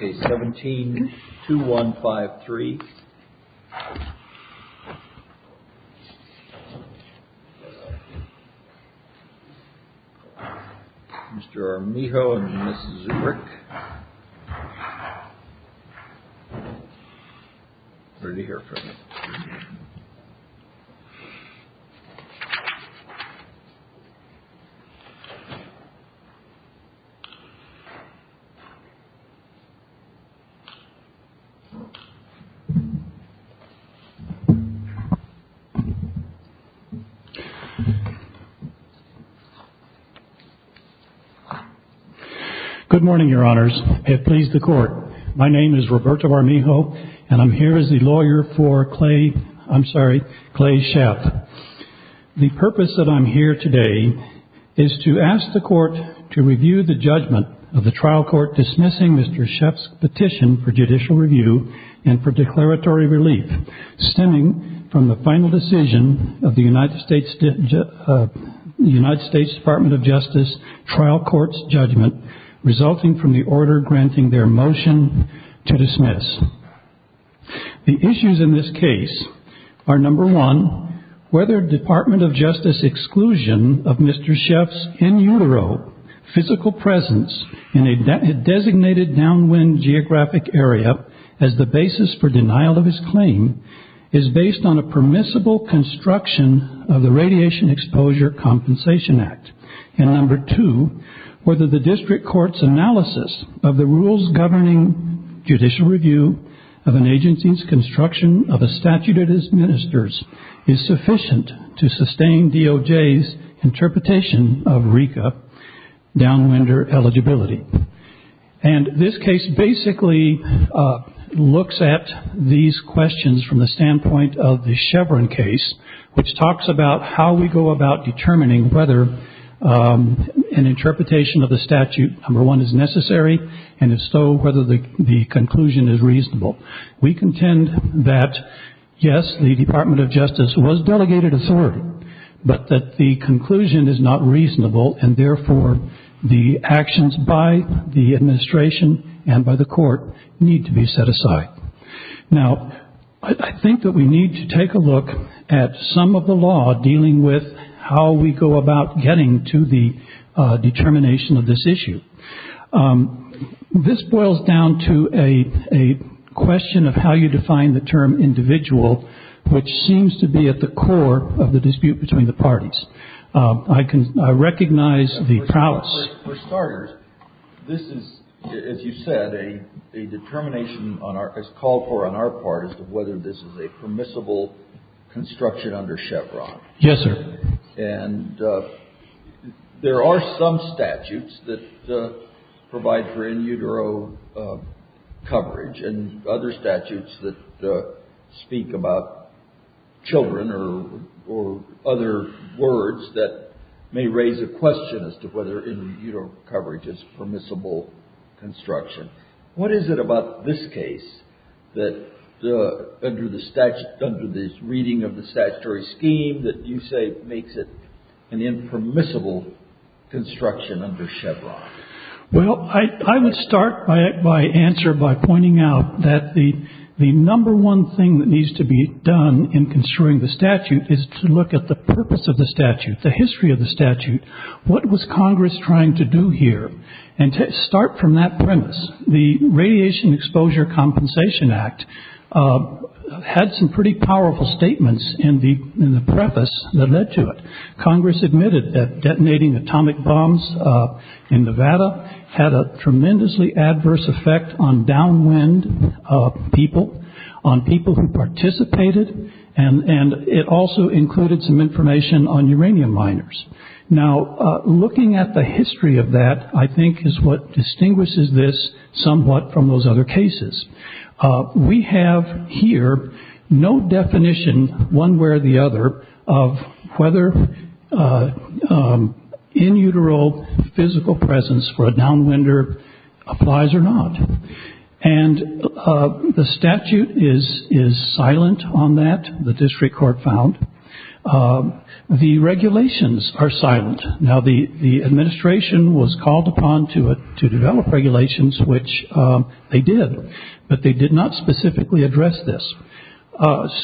Case 17-2153, Mr. Armijo and Mrs. Zubrick. Good morning, your Honors. I have pleased the Court. My name is Roberto Armijo, and I'm here as the lawyer for Clay, I'm sorry, Clay Sheff. The purpose that I'm here today is to ask the Court to review the judgment of the trial court dismissing Mr. Sheff's petition for judicial review and for declaratory relief stemming from the final decision of the United States Department of Justice trial court's in the order granting their motion to dismiss. The issues in this case are, number one, whether Department of Justice exclusion of Mr. Sheff's in utero physical presence in a designated downwind geographic area as the basis for denial of his claim is based on a permissible construction of the Radiation Exposure Compensation Act, and number two, whether the district court's analysis of the rules governing judicial review of an agency's construction of a statute it administers is sufficient to sustain DOJ's interpretation of RECA downwinder eligibility. And this case basically looks at these questions from the standpoint of the Chevron case, which is whether an interpretation of the statute, number one, is necessary, and if so, whether the conclusion is reasonable. We contend that, yes, the Department of Justice was delegated authority, but that the conclusion is not reasonable, and therefore the actions by the administration and by the Court need to be set aside. Now, I think that we need to take a look at some of the law dealing with how we go about getting to the determination of this issue. This boils down to a question of how you define the term individual, which seems to be at the core of the dispute between the parties. I can recognize the prowess. For starters, this is, as you said, a determination on our – it's called for on our part as to whether this is a permissible construction under Chevron. Yes, sir. And there are some statutes that provide for in utero coverage and other statutes that speak about children or other words that may raise a question as to whether in utero coverage is permissible construction. What is it about this case that under the reading of the statutory scheme that you say makes it an impermissible construction under Chevron? Well, I would start my answer by pointing out that the number one thing that needs to be done in construing the statute is to look at the purpose of the statute, the history of the statute. What was Congress trying to do here? And to start from that premise, the Radiation Exposure Compensation Act had some pretty powerful statements in the preface that led to it. Congress admitted that detonating atomic bombs in Nevada had a tremendously adverse effect on downwind people, on people who participated, and it also included some information on uranium miners. Now, looking at the history of that, I think, is what distinguishes this somewhat from those other cases. We have here no definition, one way or the other, of whether in utero physical presence for a downwinder applies or not. And the statute is silent on that, the district court found. The regulations are silent. Now, the administration was called upon to develop regulations, which they did, but they did not specifically address this.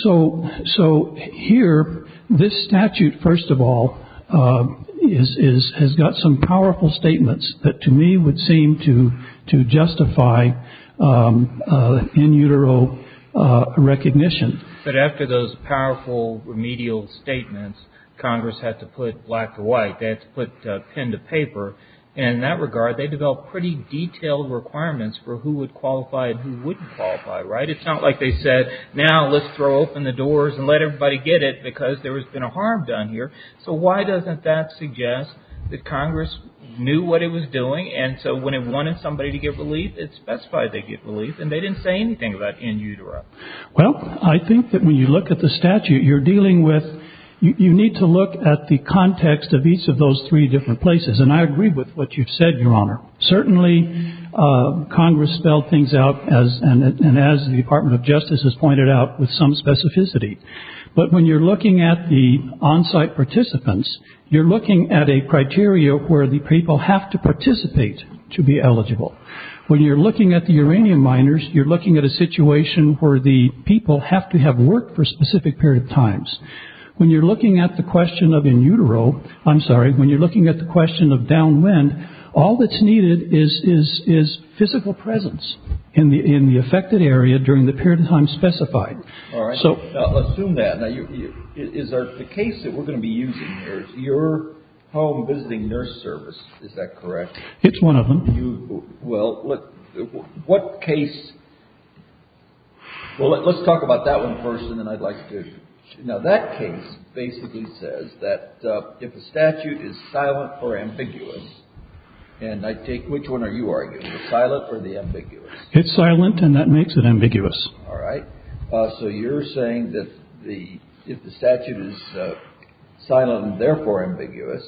So here, this statute, first of all, has got some powerful statements that to me would seem to justify in utero recognition. But after those powerful remedial statements, Congress had to put black to white, they had to put pen to paper, and in that regard, they developed pretty detailed requirements for who would qualify and who wouldn't qualify, right? It's not like they said, now let's throw open the doors and let everybody get it because there has been a harm done here. So why doesn't that suggest that Congress knew what it was doing, and so when it wanted somebody to get relief, it specified they'd get relief, and they didn't say anything about in utero. Well, I think that when you look at the statute, you're dealing with, you need to look at the context of each of those three different places, and I agree with what you've said, Your Honor. Certainly, Congress spelled things out, and as the Department of Justice has pointed out, with some specificity. But when you're looking at the on-site participants, you're looking at a criteria where the people have to participate to be eligible. When you're looking at the uranium miners, you're looking at a situation where the people have to have worked for a specific period of times. When you're looking at the question of in utero, I'm sorry, when you're looking at the question of downwind, all that's needed is physical presence in the affected area during the period of time specified. All right. Now, assume that. Now, is there a case that we're going to be using here, is your home visiting nurse service, is that correct? It's one of them. Well, what case, well, let's talk about that one first, and then I'd like to, now, that case basically says that if a statute is silent or ambiguous, and I take, which one are you arguing, the silent or the ambiguous? It's silent, and that makes it ambiguous. All right. So, you're saying that the, if the statute is silent and therefore ambiguous,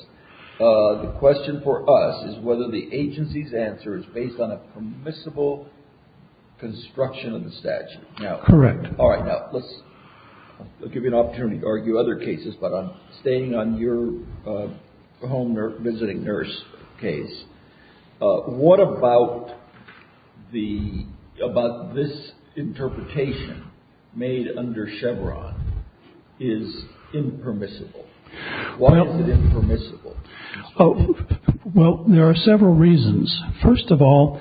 the question for us is whether the agency's answer is based on a permissible construction of the statute. Now. Correct. All right. Now, let's, I'll give you an opportunity to argue other cases, but I'm stating on your home visiting nurse case, what about this interpretation made under Chevron is impermissible? Why is it impermissible? Well, there are several reasons. First of all,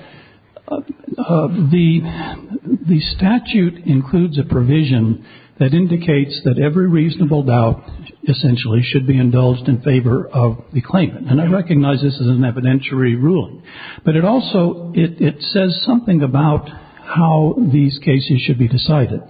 the statute includes a provision that indicates that every reasonable doubt essentially should be indulged in favor of the claimant, and I recognize this is an evidentiary ruling, but it also, it says something about how these cases should be decided.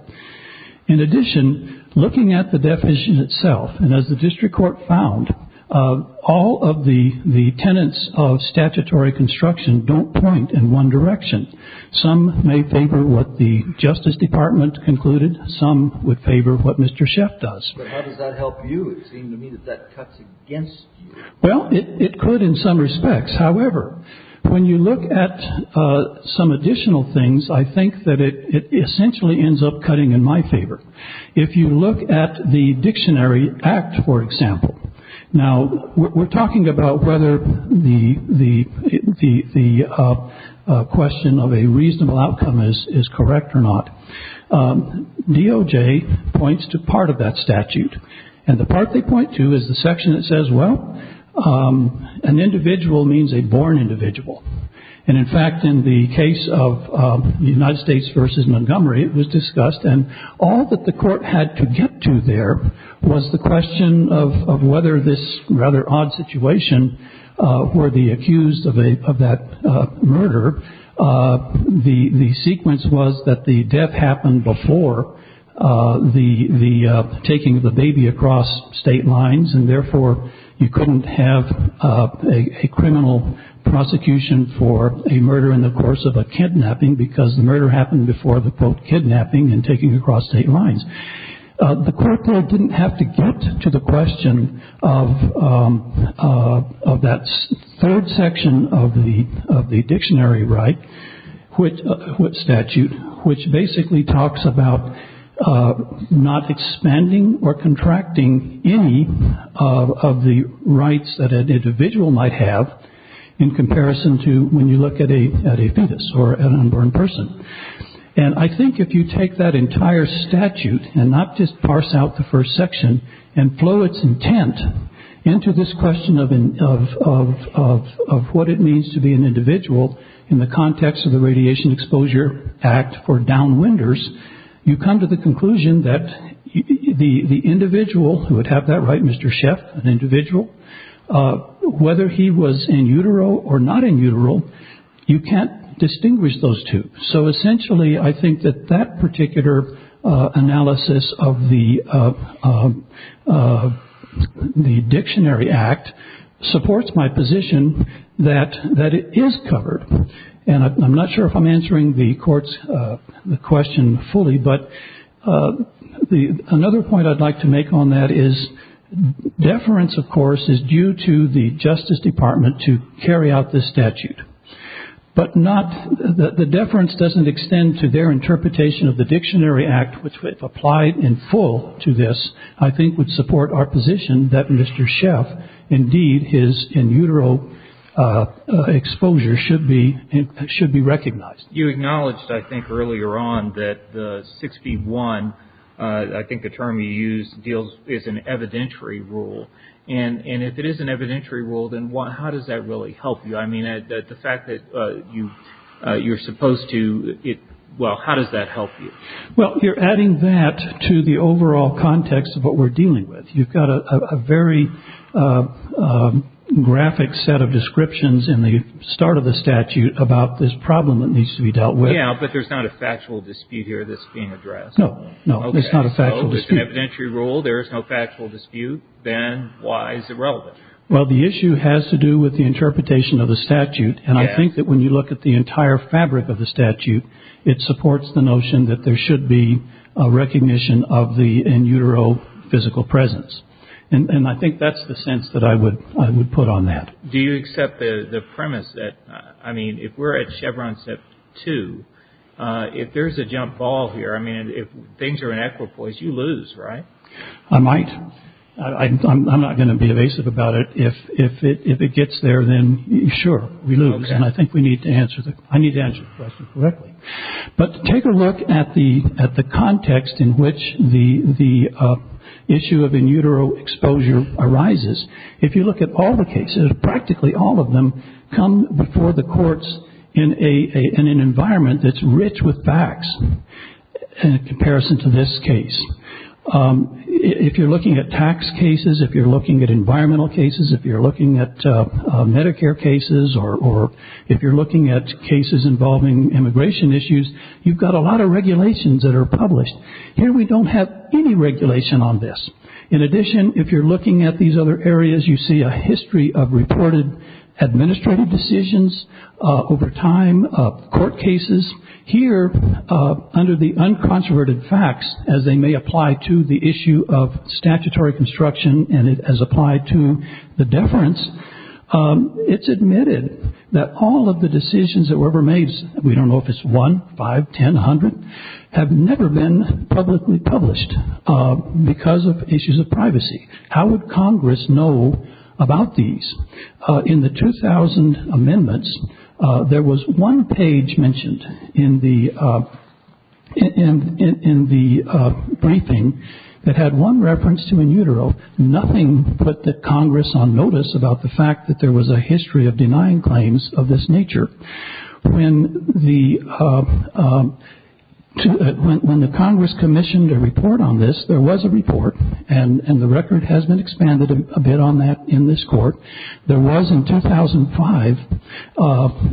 In addition, looking at the definition itself, and as the district court found, all of the tenets of statutory construction don't point in one direction. Some may favor what the Justice Department concluded. Some would favor what Mr. Sheff does. But how does that help you? It seems to me that that cuts against you. Well, it could in some respects. However, when you look at some additional things, I think that it essentially ends up cutting in my favor. If you look at the Dictionary Act, for example. Now, we're talking about whether the question of a reasonable outcome is correct or not. DOJ points to part of that statute, and the part they point to is the section that says, well, an individual means a born individual. And in fact, in the case of the United States v. Montgomery, it was discussed, and all that the court had to get to there was the question of whether this rather odd situation were the accused of that murder. The sequence was that the death happened before the taking of the baby across state lines, and therefore you couldn't have a criminal prosecution for a murder in the course of a kidnapping because the murder happened before the, quote, kidnapping and taking across state lines. The court didn't have to get to the question of that third section of the Dictionary Right statute, which basically talks about not expanding or contracting any of the rights that an individual might have in comparison to when you look at a fetus or an unborn person. And I think if you take that entire statute and not just parse out the first section and flow its intent into this question of what it means to be an individual in the context of the Radiation Exposure Act for downwinders, you come to the conclusion that the individual, who would have that right, Mr. Sheff, an individual, whether he was in utero or not in utero, you can't distinguish those two. So essentially, I think that that particular analysis of the Dictionary Act supports my position that it is covered. And I'm not sure if I'm answering the court's question fully, but another point I'd like to make on that is deference, of course, is due to the Justice Department to carry out this statute. But the deference doesn't extend to their interpretation of the Dictionary Act, which if applied in full to this, I think would support our position that Mr. Sheff, indeed, his in utero exposure should be recognized. You acknowledged, I think, earlier on that the 6B1, I think the term you used, is an evidentiary rule. And if it is an evidentiary rule, then how does that really help you? I mean, the fact that you're supposed to, well, how does that help you? Well, you're adding that to the overall context of what we're dealing with. You've got a very graphic set of descriptions in the start of the statute about this problem that needs to be dealt with. Yeah, but there's not a factual dispute here that's being addressed. No, no, there's not a factual dispute. So if it's an evidentiary rule, there is no factual dispute, then why is it relevant? Well, the issue has to do with the interpretation of the statute. And I think that when you look at the entire fabric of the statute, it supports the notion that there should be a recognition of the in utero physical presence. And I think that's the sense that I would put on that. Do you accept the premise that, I mean, if we're at Chevron Step 2, if there's a jump ball here, I mean, if things are in equipoise, you lose, right? I might. I'm not going to be evasive about it. If it gets there, then sure, we lose. Okay. And I think we need to answer, I need to answer the question correctly. But take a look at the context in which the issue of in utero exposure arises. If you look at all the cases, practically all of them come before the courts in an environment that's rich with facts in comparison to this case. If you're looking at tax cases, if you're looking at environmental cases, if you're looking at Medicare cases, or if you're looking at cases involving immigration issues, you've got a lot of regulations that are published. Here we don't have any regulation on this. In addition, if you're looking at these other areas, you see a history of reported administrative decisions over time, court cases. Here, under the uncontroverted facts, as they may apply to the issue of statutory construction and as applied to the deference, it's admitted that all of the decisions that were ever made, we don't know if it's one, five, ten, a hundred, have never been publicly published because of issues of privacy. How would Congress know about these? In the 2000 amendments, there was one page mentioned in the briefing that had one reference to in utero, nothing but that Congress on notice about the fact that there was a history of denying claims of this nature. When the Congress commissioned a report on this, there was a report, and the record has been expanded a bit on that in this court. There was in 2005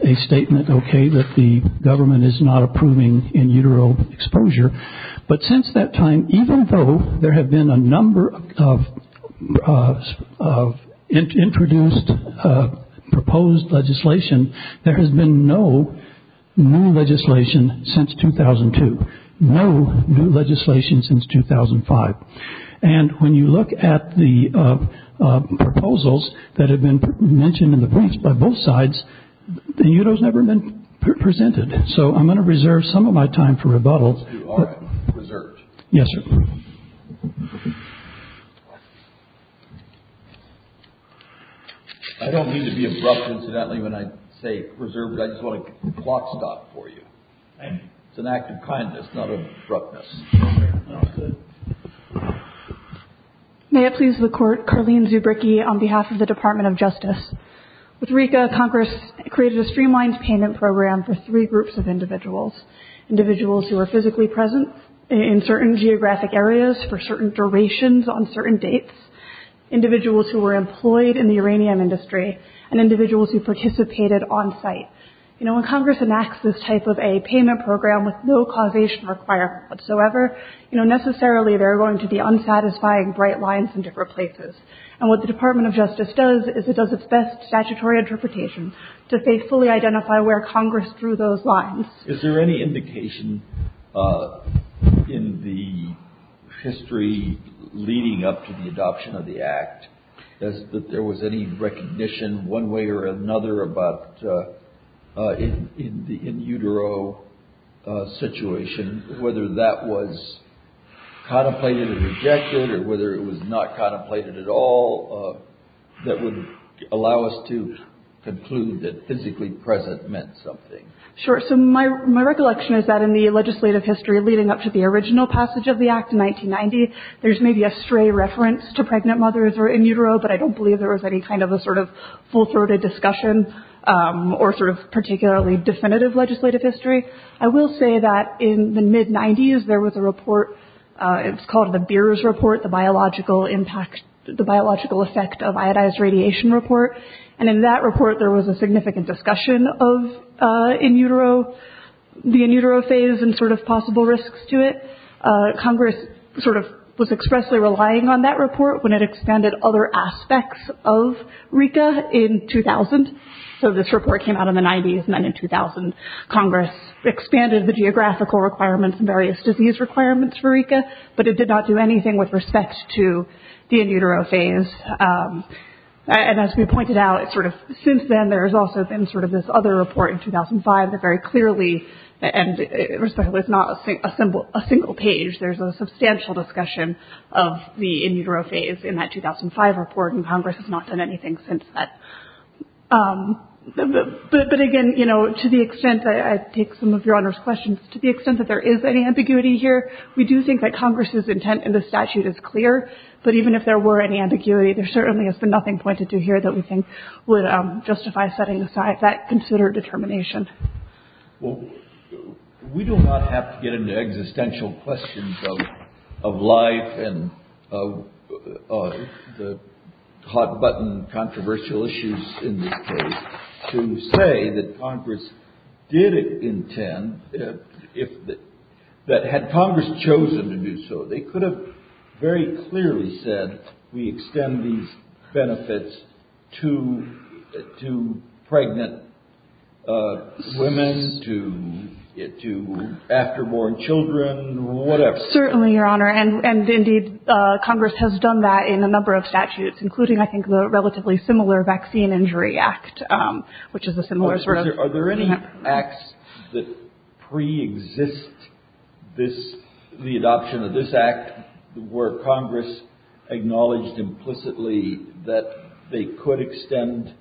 a statement, okay, that the government is not approving in utero exposure, but since that time, even though there have been a number of introduced proposed legislation, there has been no new legislation since 2002, no new legislation since 2005. And when you look at the proposals that have been mentioned in the briefs by both sides, the utero has never been presented. So I'm going to reserve some of my time for rebuttals. You are reserved. Yes, sir. I don't mean to be abrupt, incidentally, when I say reserved. I just want to clock stop for you. Thank you. It's an act of kindness, not abruptness. Okay. May it please the Court, Carleen Zubricki on behalf of the Department of Justice. With RICA, Congress created a streamlined payment program for three groups of individuals. Individuals who are physically present in certain geographic areas for certain durations on certain dates, individuals who were employed in the uranium industry, and individuals who participated on site. You know, when Congress enacts this type of a payment program with no causation requirement whatsoever, you know, necessarily there are going to be unsatisfying bright lines in different places. And what the Department of Justice does is it does its best statutory interpretation to faithfully identify where Congress drew those lines. Is there any indication in the history leading up to the adoption of the Act that there was any recognition one way or another about in the in utero situation, whether that was contemplated or rejected, or whether it was not contemplated at all, that would allow us to conclude that physically present meant something? Sure. So my recollection is that in the legislative history leading up to the original passage of the Act in 1990, there's maybe a stray reference to pregnant mothers or in utero, but I don't believe there was any kind of a sort of full-throated discussion or sort of particularly definitive legislative history. I will say that in the mid-90s, there was a report. It's called the Beers Report, the Biological Impact, the Biological Effect of Iodized Radiation Report. And in that report, there was a significant discussion of in utero, the in utero phase and sort of possible risks to it. Congress sort of was expressly relying on that report when it expanded other aspects of RICA in 2000. So this report came out in the 90s and then in 2000, Congress expanded the geographical requirements and various disease requirements for RICA, but it did not do anything with respect to the in utero phase. And as we pointed out, sort of since then, there's also been sort of this other report in 2005 that very clearly was not a single page. There's a substantial discussion of the in utero phase in that 2005 report, and Congress has not done anything since that. But again, you know, to the extent that I take some of Your Honor's questions, to the extent that there is any ambiguity here, we do think that Congress's intent in the statute is clear. But even if there were any ambiguity, there certainly has been nothing pointed to here that we think would justify setting aside that considered determination. Well, we do not have to get into existential questions of life and the hot button controversial issues in this case to say that Congress did intend, that had Congress chosen to do so, they could have very clearly said we extend these benefits to pregnant women, to after-born children, whatever. Certainly, Your Honor. And indeed, Congress has done that in a number of statutes, including, I think, the relatively similar Vaccine Injury Act, which is a similar sort of... Are there any acts that pre-exist this, the adoption of this act, where Congress acknowledged implicitly that they could extend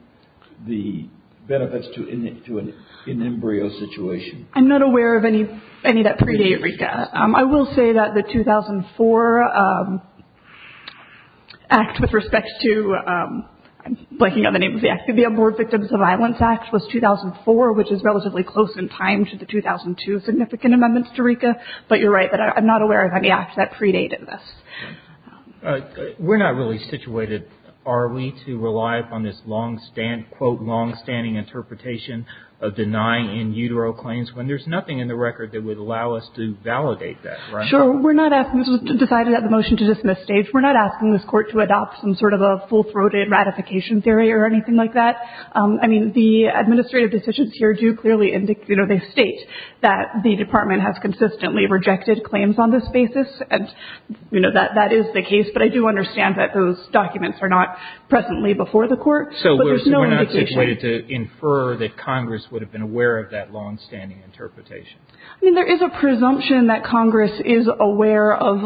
the benefits to an embryo situation? I'm not aware of any of that pre-date recap. I will say that the 2004 act with respect to, I'm blanking on the name of the act, the Abort Victims of Violence Act was 2004, which is relatively close in time to the 2002 significant amendments to RICA. But you're right that I'm not aware of any acts that pre-date this. We're not really situated, are we, to rely upon this long-standing, quote, long-standing interpretation of denying in utero claims when there's nothing in the record that would allow us to validate that, right? Sure. We're not asking, this was decided at the motion to dismiss stage, we're not asking this court to adopt some sort of a full-throated ratification theory or anything like that. I mean, the administrative decisions here do clearly indicate, you know, they state that the department has consistently rejected claims on this basis, and, you know, that is the case, but I do understand that those documents are not presently before the court. So we're not situated to infer that Congress would have been aware of that long-standing interpretation? I mean, there is a presumption that Congress is aware of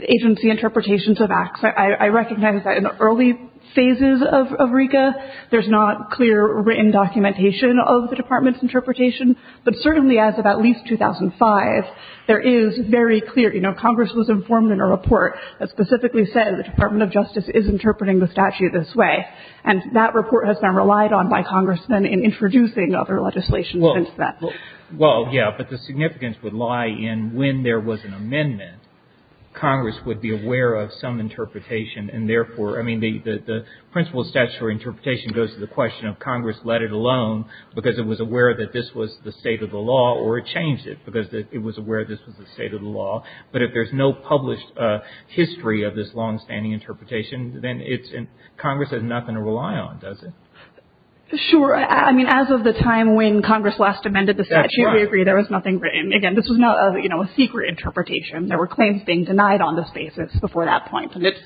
agency interpretations of acts. I recognize that in the early phases of RICA, there's not clear written documentation of the department's interpretation, but certainly as of at least 2005, there is very clear, you know, Congress was informed in a report that specifically said the Department of Justice is interpreting the statute this way, and that report has been relied on by Congress in introducing other legislation since then. Well, yeah, but the significance would lie in when there was an amendment, Congress would be aware of some interpretation, and therefore, I mean, the principle of statutory interpretation goes to the question of Congress let it alone because it was aware that this was the state of the law, or it changed it because it was aware this was the state of the law. But if there's no published history of this long-standing interpretation, then Congress has nothing to rely on, does it? Sure. I mean, as of the time when Congress last amended the statute, we agree there was nothing written. Again, this was not, you know, a secret interpretation. There were claims being denied on this basis before that point, and it's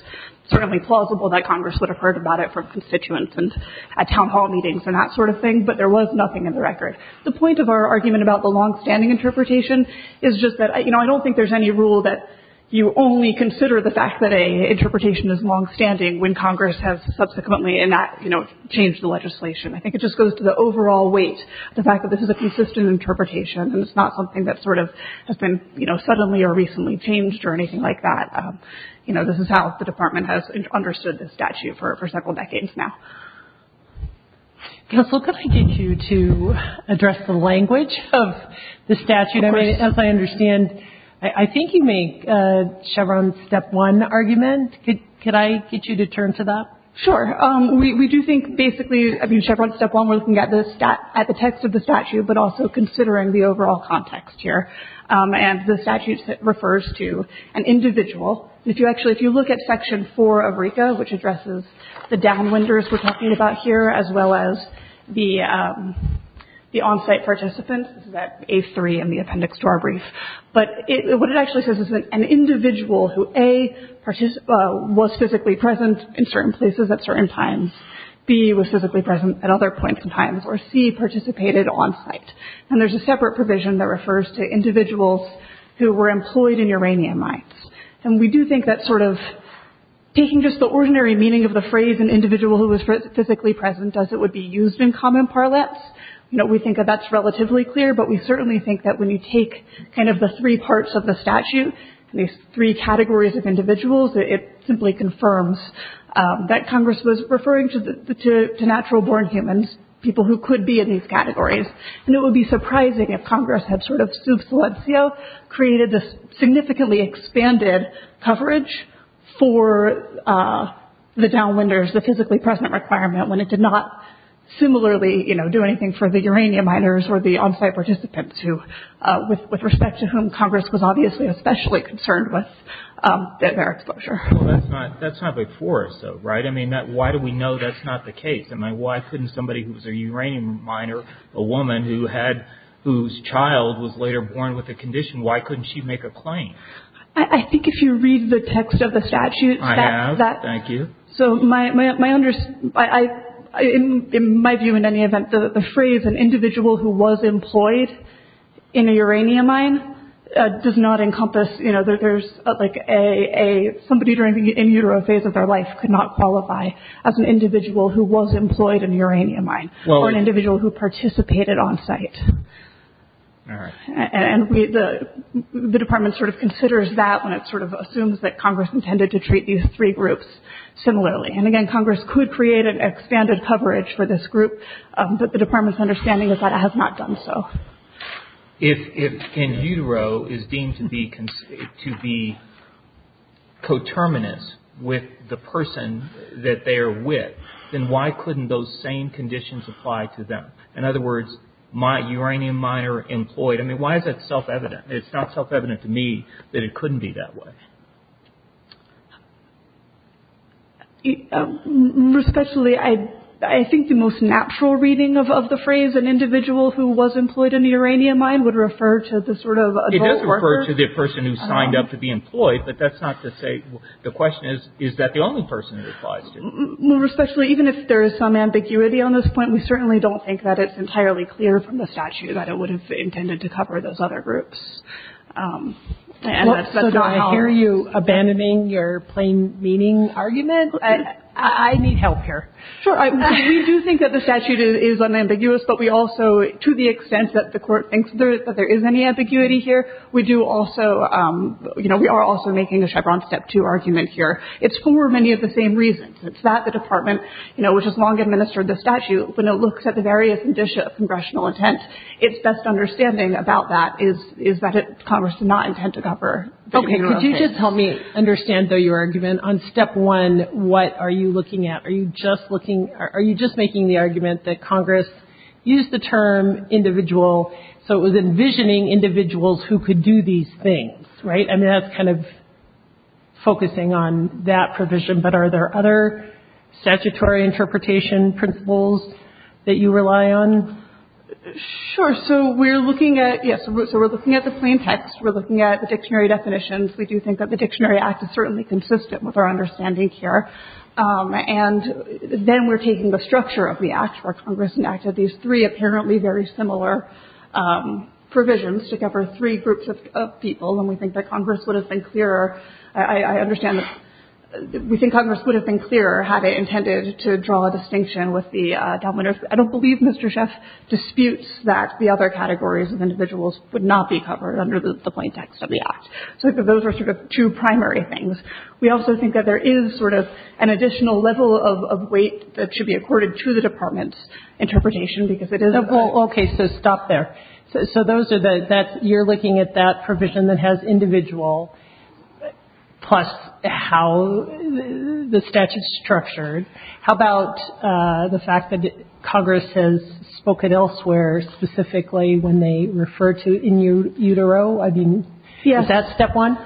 certainly plausible that Congress would have heard about it from constituents and at town hall meetings and that sort of thing, but there was nothing in the record. The point of our argument about the long-standing interpretation is just that, you know, I don't think there's any rule that you only consider the fact that an interpretation is long-standing when Congress has subsequently changed the legislation. I think it just goes to the overall weight, the fact that this is a persistent interpretation and it's not something that sort of has been, you know, suddenly or recently changed or anything like that. You know, this is how the Department has understood this statute for several decades now. Counsel, could I get you to address the language of the statute? Of course. As I understand, I think you make Chevron's step one argument. Could I get you to turn to that? Sure. We do think basically, I mean, Chevron's step one, we're looking at the text of the statute, but also considering the overall context here. And the statute refers to an individual. If you actually, if you look at Section 4 of RICA, which addresses the downwinders we're talking about here, as well as the on-site participants, this is at A3 in the appendix to our brief, but what it actually says is that an individual who A, was physically present in certain places at certain times, B, was physically present at other points in time, or C, participated on-site. And there's a separate provision that refers to individuals who were employed in uranium mines. And we do think that sort of, taking just the ordinary meaning of the phrase, an individual who was physically present as it would be used in common parlance, you know, we think that that's relatively clear, but we certainly think that when you take kind of the three parts of the statute, these three categories of individuals, it simply confirms that Congress was referring to natural-born humans, people who could be in these categories. And it would be surprising if Congress had sort of sub silencio, created this significantly expanded coverage for the downwinders, the physically present requirement, when it did not similarly, you know, do anything for the uranium miners or the on-site participants, with respect to whom Congress was obviously especially concerned with their exposure. Well, that's not before us, though, right? I mean, why do we know that's not the case? I mean, why couldn't somebody who was a uranium miner, a woman who had, whose child was later born with a condition, why couldn't she make a claim? I think if you read the text of the statute, I have, thank you. So my understanding, in my view, in any event, the phrase, an individual who was employed in a uranium mine, does not encompass, you know, there's like a, somebody during the in-utero phase of their life could not qualify as an individual who was employed in a uranium mine, or an individual who participated on-site. And the Department sort of considers that when it sort of assumes that Congress intended to treat these three groups similarly. And again, Congress could create an expanded coverage for this group, but the Department's understanding is that it has not done so. If in-utero is deemed to be coterminous with the person that they are with, then why couldn't those same conditions apply to them? In other words, uranium miner employed, I mean, why is that self-evident? It's not self-evident to me that it couldn't be that way. Especially, I think, the most natural reading of the phrase, an individual who was employed in a uranium mine would refer to the sort of adult worker. It does refer to the person who signed up to be employed, but that's not to say, the question is, is that the only person it applies to? Especially, even if there is some ambiguity on this point, we certainly don't think that it's entirely clear from the statute that it would have intended to cover those other groups. So do I hear you abandoning your plain meaning argument? I need help here. Sure, we do think that the statute is unambiguous, but we also, to the extent that the court thinks that there is any ambiguity here, we are also making a Chevron Step 2 argument here. It's for many of the same reasons. It's that the Department, which has long administered the statute, when it looks at the various condition of congressional intent, it's best understanding about that is that Congress did not intend to cover. Could you just help me understand your argument? On Step 1, what are you looking at? Are you just making the argument that Congress used the term individual, so it was envisioning individuals who could do these things, right? I mean, that's kind of focusing on that provision, but are there other statutory interpretation principles that you rely on? Sure, so we're looking at, yes, so we're looking at the plain text. We're looking at the dictionary definitions. We do think that the Dictionary Act is certainly consistent with our understanding here. And then we're taking the structure of the Act, where Congress enacted these three apparently very similar provisions to cover three groups of people, and we think that Congress would have been clearer. I understand that we think Congress would have been clearer had it intended to draw a distinction with the dominant. I don't believe Mr. Schiff disputes that the other categories of individuals would not be covered under the plain text of the Act. So those are sort of two primary things. We also think that there is sort of an additional level of weight that should be accorded to the Department's interpretation because it is a... Well, okay, so stop there. So those are the, that, you're looking at that provision that has individual plus how the statute's structured. How about the fact that Congress has spoken elsewhere specifically when they refer to in utero? I mean, is that step one?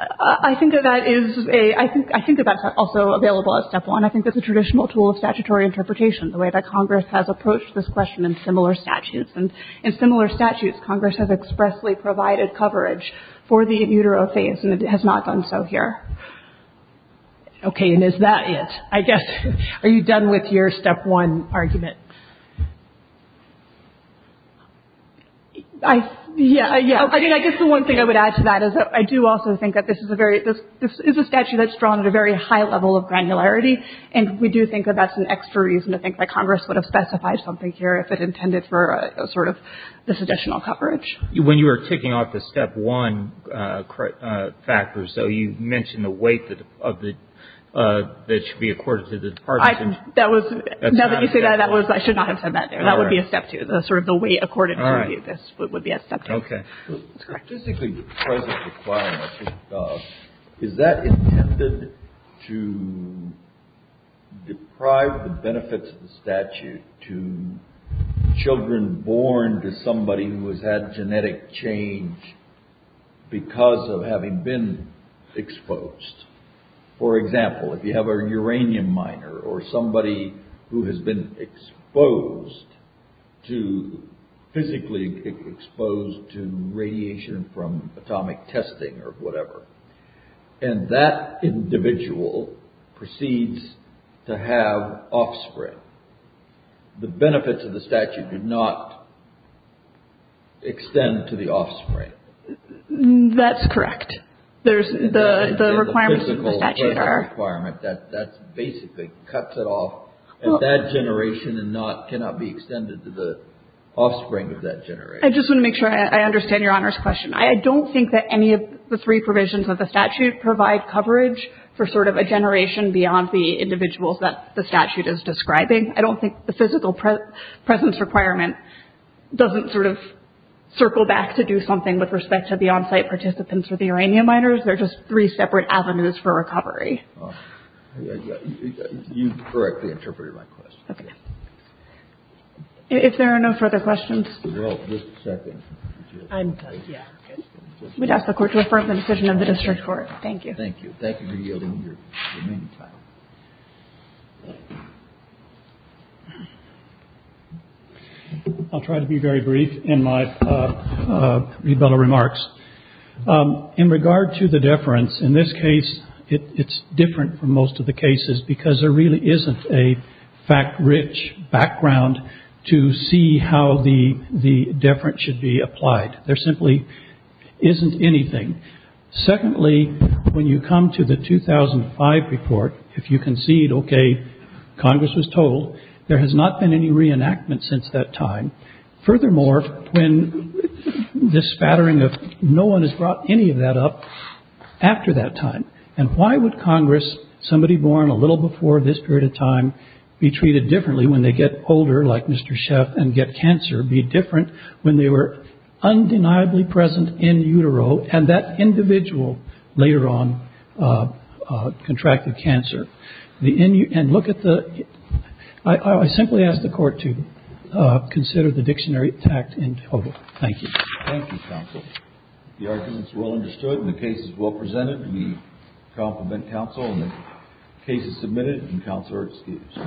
I think that that is a I think that that's also available as step one. I think that's a traditional tool of statutory interpretation, the way that Congress has approached this question in similar statutes, and in similar statutes, Congress has expressly provided coverage for the utero phase, and it has not done so here. Okay, and is that it? I guess are you done with your step one argument? I, yeah, I guess the one thing I would add to that is that I do also think that this is a very, this is a statute that's drawn at a very high level of granularity, and we do think that that's an extra reason to think that Congress would have specified something here if it intended for a sort of this additional coverage. When you were ticking off the step one factors, though, you mentioned the weight of the that should be accorded to the Department. I, that was, now that you say that, that was, I should not have said that there. That would be a step two. The sort of the weight according to this would be a step two. Okay. Is that intended to deprive the benefits of the statute to children born to somebody who has had genetic change because of having been exposed? For example, if you have a uranium miner or somebody who has been exposed to physically exposed to radiation from atomic testing or whatever, and that individual proceeds to have offspring, the benefits of the statute do not extend to the offspring. That's correct. There's the requirements of the statute are. That basically cuts it off and that generation cannot be extended to the offspring of that generation. I just want to make sure I understand your Honor's question. I don't think that any of the three provisions of the statute provide coverage for sort of a generation beyond the individuals that the statute is describing. I don't think the physical presence requirement doesn't sort of circle back to do something with respect to the on-site participants or the uranium miners. They're just three separate avenues for recovery. You correctly interpreted my question. If there are no further questions. Just a second. We'd ask the court to affirm the decision of the district court. Thank you. Thank you. Thank you for yielding your remaining time. I'll try to be very brief in my rebuttal remarks. In regard to the deference, in this case it's different from most of the cases because there really isn't a fact-rich background to see how the deference should be applied. There simply isn't anything. Secondly, when you come to the 2005 report, if you concede, okay, Congress was told, there has not been any reenactment since that time. Furthermore, when this spattering of no one has brought any of that up after that time, and why would Congress, somebody born a little before this period of time, be treated differently when they get older, like Mr. Sheff, and get cancer, be different when they were undeniably present in utero, and that individual later on contracted cancer. And look at the, I simply ask the court to consider the dictionary tact in total. Thank you. Thank you, counsel. The argument is well understood and the case is well presented. We compliment counsel and the case is submitted and counsel are excused.